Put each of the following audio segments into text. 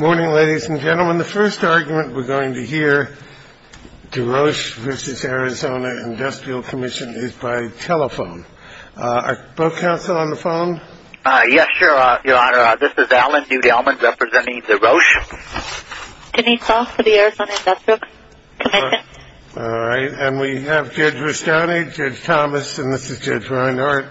Morning ladies and gentlemen, the first argument we're going to hear, DeRoche v. Arizona Industrial Commision is by telephone. Uh, are both counsel on the phone? Uh, yes, your honor, this is Alan Newdelman representing DeRoche. Denise Ross for the Arizona Industrial Commision. Alright, and we have Judge Rustoni, Judge Thomas, and this is Judge Reinhardt.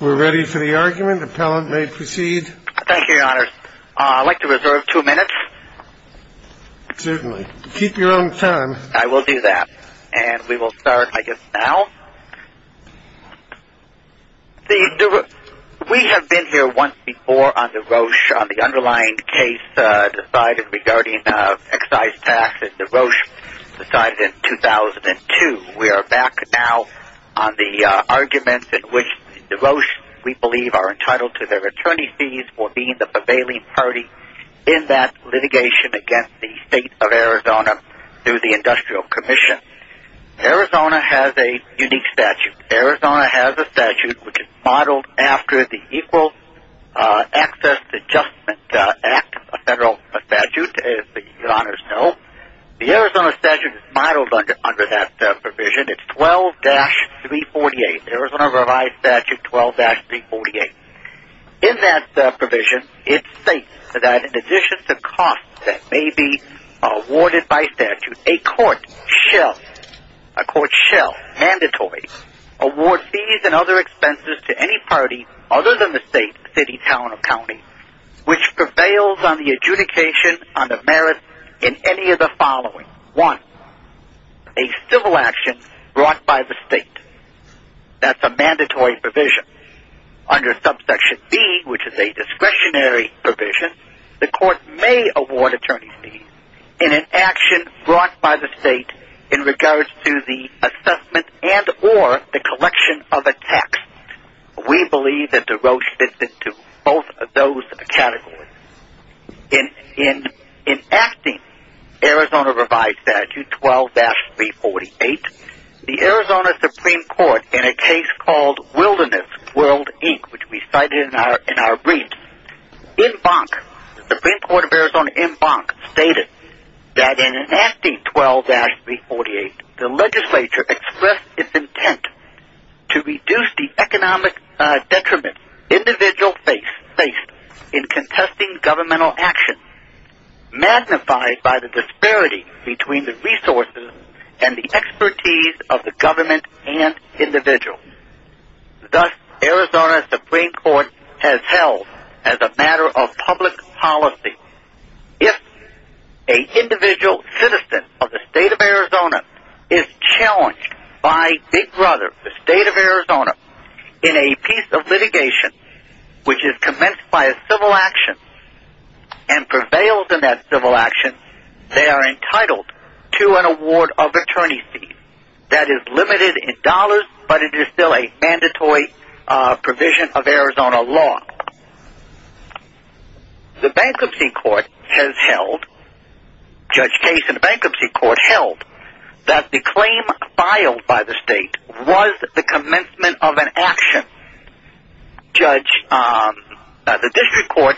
We're ready for the argument, appellant may proceed. Thank you, your honor. I'd like to reserve two minutes. Certainly, keep your own time. I will do that, and we will start, I guess, now. We have been here once before on DeRoche, on the underlying case decided regarding excise tax that DeRoche decided in 2002. We are back now on the argument in which DeRoche, we believe, are entitled to their attorney's fees for being the prevailing party in that litigation against the state of Arizona through the Industrial Commision. Arizona has a unique statute. Arizona has a statute which is modeled after the Equal Access Adjustment Act, a federal statute, as the honors know. The Arizona statute is modeled under that provision. It's 12-348, Arizona Revised Statute 12-348. In that provision, it states that in addition to costs that may be awarded by statute, a court shall, a court shall, mandatory, award fees and other expenses to any party other than the state, city, town, or county which prevails on the adjudication on the merits in any of the following. One, a civil action brought by the state. That's a mandatory provision. Under Subsection B, which is a discretionary provision, the court may award attorney's fees in an action brought by the state in regards to the assessment and or the collection of a tax. We believe that DeRoche fits into both of those categories. In enacting Arizona Revised Statute 12-348, the Arizona Supreme Court in a case called Wilderness World Inc., which we cited in our brief, in bonk, the Supreme Court of Arizona in bonk stated that in enacting 12-348, the legislature expressed its intent to reduce the economic detriment individuals face in contesting governmental action magnified by the disparity between the resources and the expertise of the government and individuals. Thus, Arizona Supreme Court has held, as a matter of public policy, if an individual citizen of the state of Arizona is challenged by Big Brother, the state of Arizona, in a piece of litigation which is commenced by a civil action and prevails in that civil action, they are entitled to an award of attorney's fees. That is limited in dollars, but it is still a mandatory provision of Arizona law. The bankruptcy court has held, Judge Case in the bankruptcy court held, that the claim filed by the state was the commencement of an action. The district court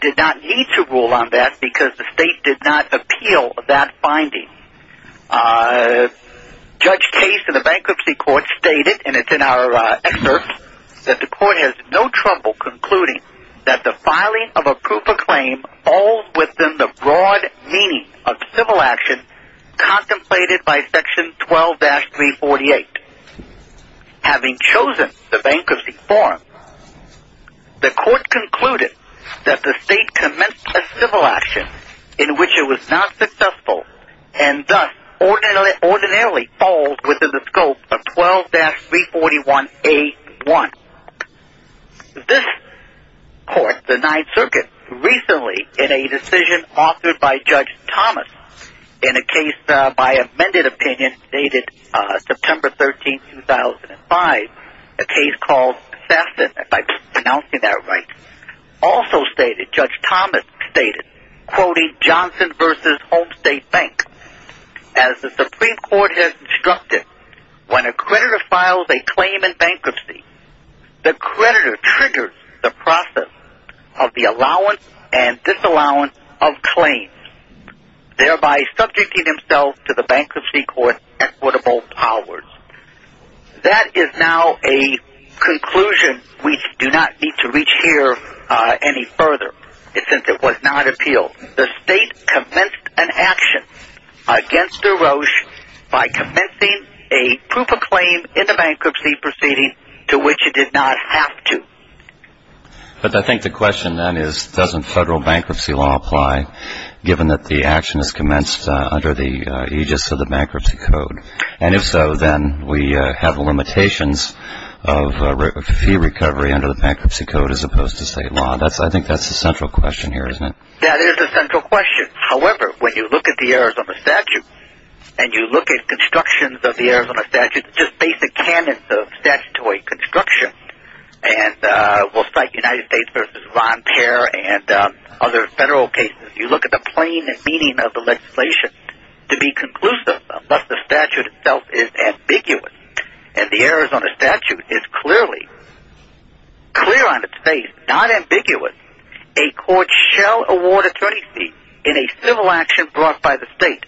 did not need to rule on that because the state did not appeal that finding. Judge Case in the bankruptcy court stated, and it's in our excerpt, that the court has no trouble concluding that the filing of a proof of claim falls within the broad meaning of civil action contemplated by section 12-348. Having chosen the bankruptcy form, the court concluded that the state commenced a civil action in which it was not successful and thus ordinarily falls within the scope of 12-341A1. This court, the Ninth Circuit, recently, in a decision authored by Judge Thomas, in a case by amended opinion dated September 13, 2005, a case called Sassen, if I'm pronouncing that right, also stated, Judge Thomas stated, quoting Johnson v. Homestate Bank, As the Supreme Court has instructed, when a creditor files a claim in bankruptcy, the creditor triggers the process of the allowance and disallowance of claims, thereby subjecting himself to the bankruptcy court's equitable powers. That is now a conclusion we do not need to reach here any further, since it was not appealed. The state commenced an action against the Roche by commencing a proof of claim in the bankruptcy proceeding to which it did not have to. But I think the question then is, doesn't federal bankruptcy law apply given that the action is commenced under the aegis of the bankruptcy code? And if so, then we have limitations of fee recovery under the bankruptcy code as opposed to state law. I think that's the central question here, isn't it? That is the central question. However, when you look at the Arizona statute, and you look at constructions of the Arizona statute, just basic canons of statutory construction, and we'll cite United States v. Ron Perr and other federal cases, you look at the plain meaning of the legislation to be conclusive unless the statute itself is ambiguous. And the Arizona statute is clearly clear on its face, not ambiguous. A court shall award attorney's fees in a civil action brought by the state.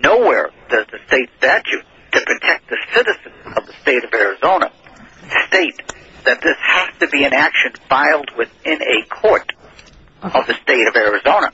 Nowhere does the state statute to protect the citizens of the state of Arizona state that this has to be an action filed within a court of the state of Arizona.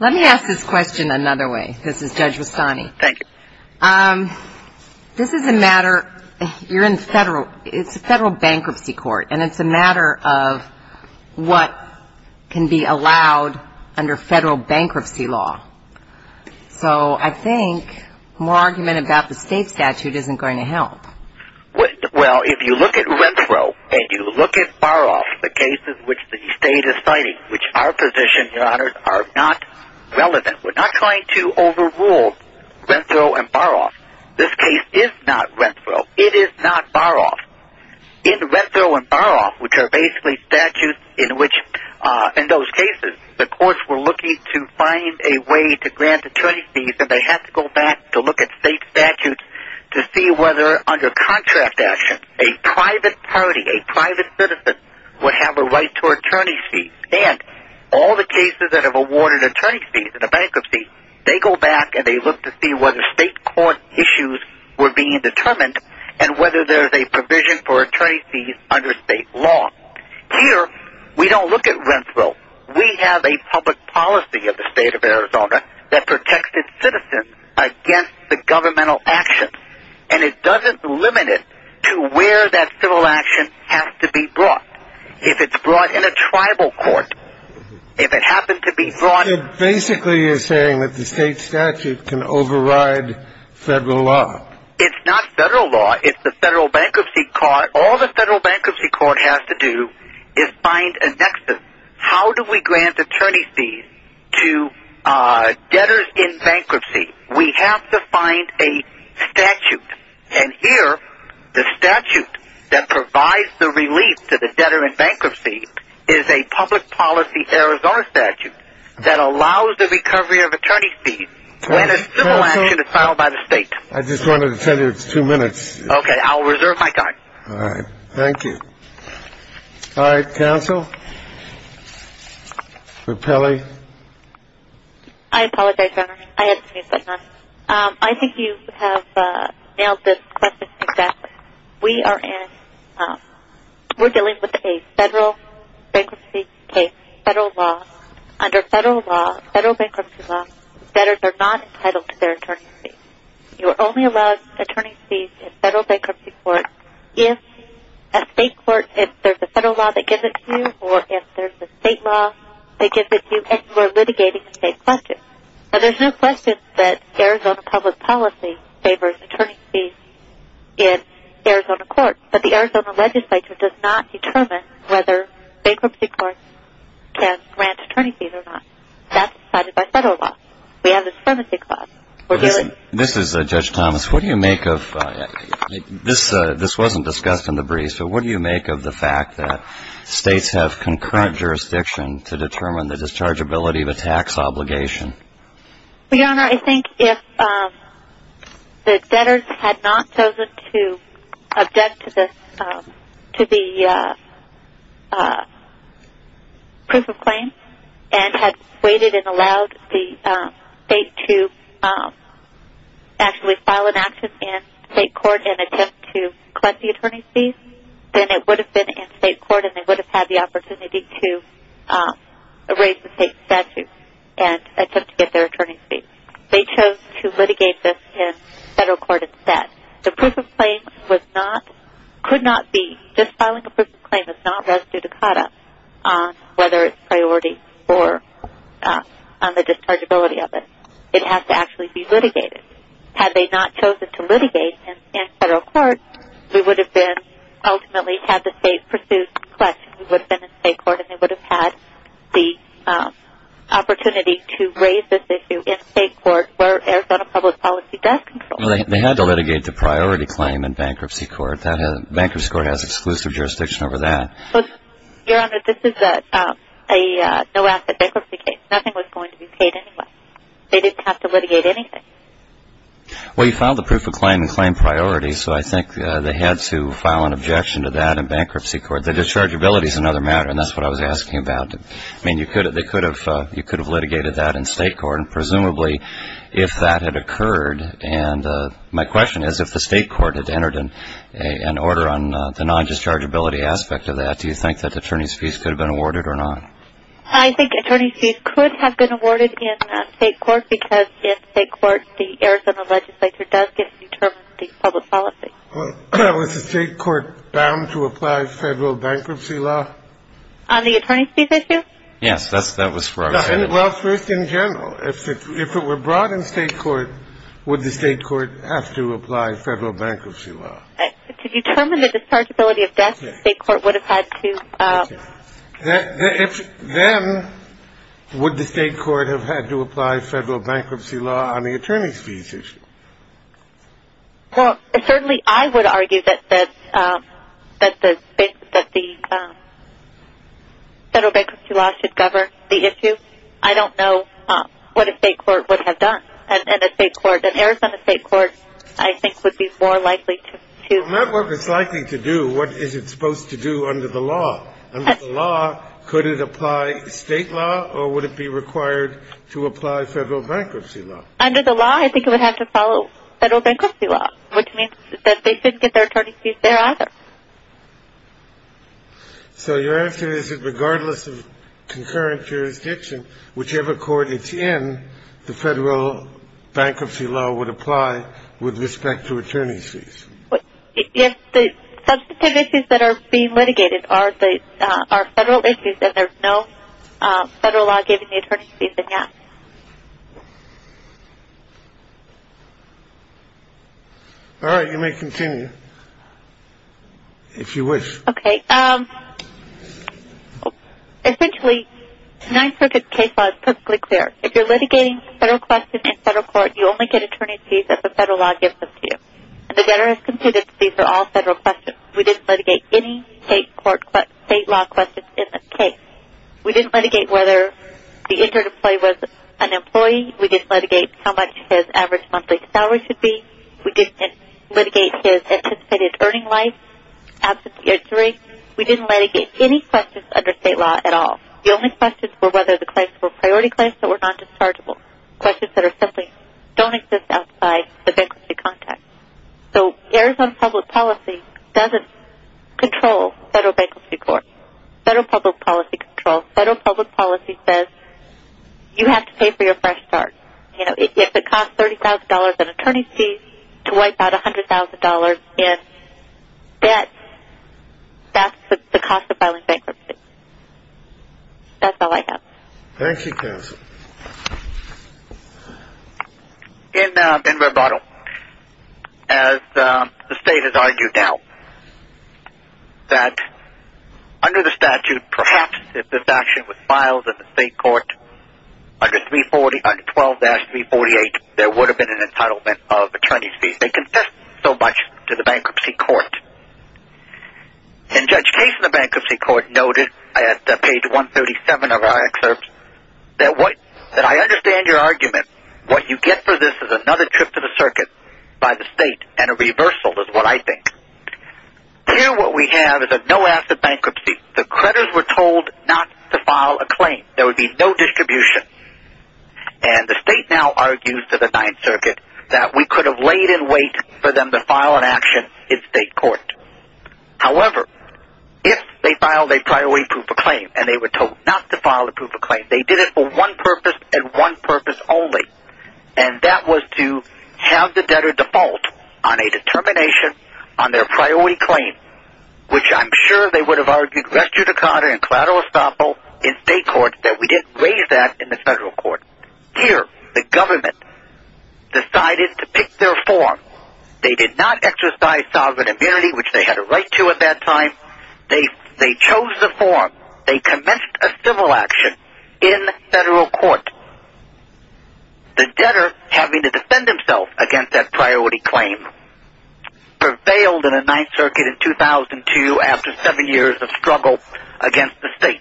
Let me ask this question another way. This is Judge Wasani. Thank you. This is a matter, you're in federal, it's a federal bankruptcy court, and it's a matter of what can be allowed under federal bankruptcy law. So I think more argument about the state statute isn't going to help. Well, if you look at rent-throw and you look at borrow-off, the cases which the state is citing, which are positioned, Your Honor, are not relevant. We're not trying to overrule rent-throw and borrow-off. This case is not rent-throw. It is not borrow-off. In rent-throw and borrow-off, which are basically statutes in which, in those cases, the courts were looking to find a way to grant attorney's fees, and they have to go back to look at state statutes to see whether, under contract action, a private party, a private citizen, would have a right to attorney's fees. And all the cases that have awarded attorney's fees in a bankruptcy, they go back and they look to see whether state court issues were being determined and whether there's a provision for attorney's fees under state law. Here, we don't look at rent-throw. We have a public policy of the state of Arizona that protects its citizens against the governmental actions, and it doesn't limit it to where that civil action has to be brought. If it's brought in a tribal court, if it happened to be brought... It basically is saying that the state statute can override federal law. It's not federal law. It's the federal bankruptcy court. All the federal bankruptcy court has to do is find a nexus. How do we grant attorney's fees to debtors in bankruptcy? We have to find a statute. And here, the statute that provides the relief to the debtor in bankruptcy is a public policy Arizona statute that allows the recovery of attorney's fees when a civil action is filed by the state. I just wanted to tell you it's two minutes. Okay, I'll reserve my time. All right. Thank you. All right, counsel? Rappelli? I apologize, Your Honor. I had to use that time. I think you have nailed this question exactly. We are dealing with a federal bankruptcy case, federal law. Under federal law, federal bankruptcy law, debtors are not entitled to their attorney's fees. You are only allowed attorney's fees in federal bankruptcy court if there's a federal law that gives it to you or if there's a state law that gives it to you and you are litigating a state question. And there's no question that Arizona public policy favors attorney's fees in Arizona court, but the Arizona legislature does not determine whether bankruptcy courts can grant attorney's fees or not. That's decided by federal law. We have a supremacy clause. This is Judge Thomas. What do you make of this? This wasn't discussed in the brief, but what do you make of the fact that states have concurrent jurisdiction to determine the dischargeability of a tax obligation? Your Honor, I think if the debtors had not chosen to object to the proof of claim and had waited and allowed the state to actually file an action in state court and attempt to collect the attorney's fees, then it would have been in state court and they would have had the opportunity to erase the state statute and attempt to get their attorney's fees. They chose to litigate this in federal court instead. The proof of claim could not be, just filing a proof of claim is not res judicata on whether it's priority or on the dischargeability of it. It has to actually be litigated. Had they not chosen to litigate in federal court, we would have been, ultimately had the state pursued the question, we would have been in state court and they would have had the opportunity to raise this issue in state court where Arizona public policy does control. They had to litigate the priority claim in bankruptcy court. Bankruptcy court has exclusive jurisdiction over that. Your Honor, this is a no-asset bankruptcy case. Nothing was going to be paid anyway. They didn't have to litigate anything. Well, you filed the proof of claim in claim priority, so I think they had to file an objection to that in bankruptcy court. The dischargeability is another matter, and that's what I was asking about. I mean, you could have litigated that in state court, and presumably if that had occurred, and my question is if the state court had entered an order on the non-dischargeability aspect of that, do you think that attorney's fees could have been awarded or not? I think attorney's fees could have been awarded in state court because in state court, the Arizona legislature does get to determine the public policy. Was the state court bound to apply federal bankruptcy law? On the attorney's fees issue? Yes, that was where I was headed. Well, first in general. If it were brought in state court, would the state court have to apply federal bankruptcy law? To determine the dischargeability of death, the state court would have had to... Then would the state court have had to apply federal bankruptcy law on the attorney's fees issue? Well, certainly I would argue that the federal bankruptcy law should govern the issue. I don't know what a state court would have done. An Arizona state court, I think, would be more likely to... Not what it's likely to do. What is it supposed to do under the law? Under the law, could it apply state law, or would it be required to apply federal bankruptcy law? Under the law, I think it would have to follow federal bankruptcy law, which means that they shouldn't get their attorney's fees there either. So your answer is that regardless of concurrent jurisdiction, whichever court it's in, the federal bankruptcy law would apply with respect to attorney's fees? Yes, the substantive issues that are being litigated are federal issues, and there's no federal law giving the attorney's fees, and yes. All right, you may continue if you wish. Okay. Essentially, Ninth Circuit case law is perfectly clear. If you're litigating federal questions in federal court, you only get attorney's fees if the federal law gives them to you. And the debtor has concluded that these are all federal questions. We didn't litigate any state law questions in this case. We didn't litigate whether the injured employee was an employee. We didn't litigate how much his average monthly salary should be. We didn't litigate his anticipated earning life after the age of three. We didn't litigate any questions under state law at all. The only questions were whether the claims were priority claims that were non-dischargeable, questions that simply don't exist outside the bankruptcy context. So Arizona public policy doesn't control federal bankruptcy court. Federal public policy controls. Federal public policy says you have to pay for your fresh start. If it costs $30,000 in attorney's fees to wipe out $100,000 in debt, that's the cost of filing bankruptcy. That's all I have. Thank you, counsel. In rebuttal, as the state has argued now that under the statute, perhaps if this action was filed in the state court under 12-348, there would have been an entitlement of attorney's fees. They confessed so much to the bankruptcy court. And Judge Case in the bankruptcy court noted at page 137 of our excerpt that I understand your argument. What you get for this is another trip to the circuit by the state, and a reversal is what I think. Here what we have is a no-asset bankruptcy. The creditors were told not to file a claim. There would be no distribution. And the state now argues to the Ninth Circuit that we could have laid in wait for them to file an action in state court. However, if they filed a priority proof of claim and they were told not to file a proof of claim, they did it for one purpose and one purpose only, and that was to have the debtor default on a determination on their priority claim, which I'm sure they would have argued res judicata and collateral estoppel in state court that we didn't raise that in the federal court. Here the government decided to pick their form. They did not exercise sovereign immunity, which they had a right to at that time. They chose the form. They commenced a civil action in federal court. The debtor, having to defend himself against that priority claim, prevailed in the Ninth Circuit in 2002 after seven years of struggle against the state.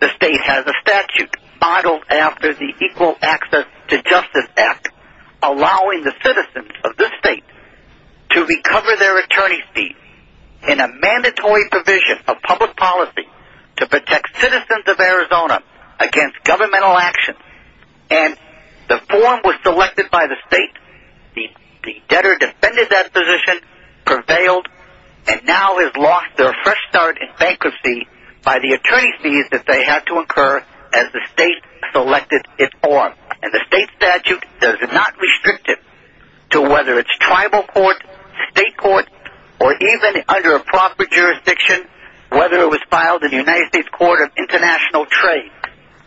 The state has a statute modeled after the Equal Access to Justice Act, allowing the citizens of this state to recover their attorney's fees in a mandatory provision of public policy to protect citizens of Arizona against governmental action. And the form was selected by the state. The debtor defended that position, prevailed, and now has lost their fresh start in bankruptcy by the attorney's fees that they had to incur as the state selected its form. And the state statute does not restrict it to whether it's tribal court, state court, or even under a proper jurisdiction, whether it was filed in the United States Court of International Trade.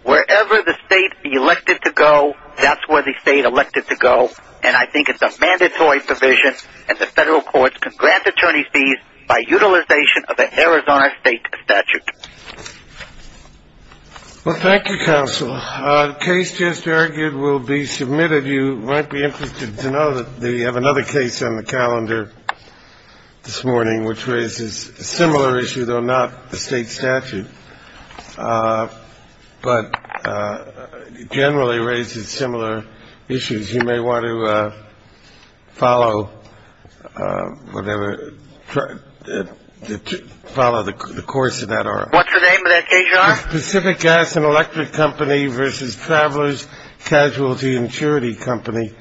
Wherever the state elected to go, that's where the state elected to go, and I think it's a mandatory provision, and the federal courts can grant attorney's fees by utilization of the Arizona state statute. Well, thank you, Counsel. The case just argued will be submitted. Some of you might be interested to know that we have another case on the calendar this morning which raises a similar issue, though not the state statute, but generally raises similar issues. You may want to follow whatever the course of that article. Pacific Gas and Electric Company versus Travelers Casualty Insurance Company.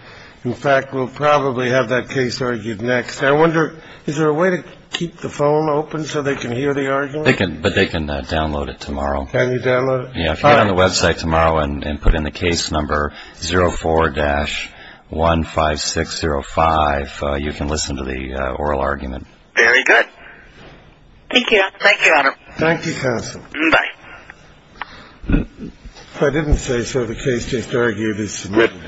In fact, we'll probably have that case argued next. I wonder, is there a way to keep the phone open so they can hear the argument? They can, but they can download it tomorrow. Can you download it? Yeah, if you go on the website tomorrow and put in the case number 04-15605, you can listen to the oral argument. Very good. Thank you, Adam. Thank you, Counsel. Bye. If I didn't say so, the case just argued is submitted.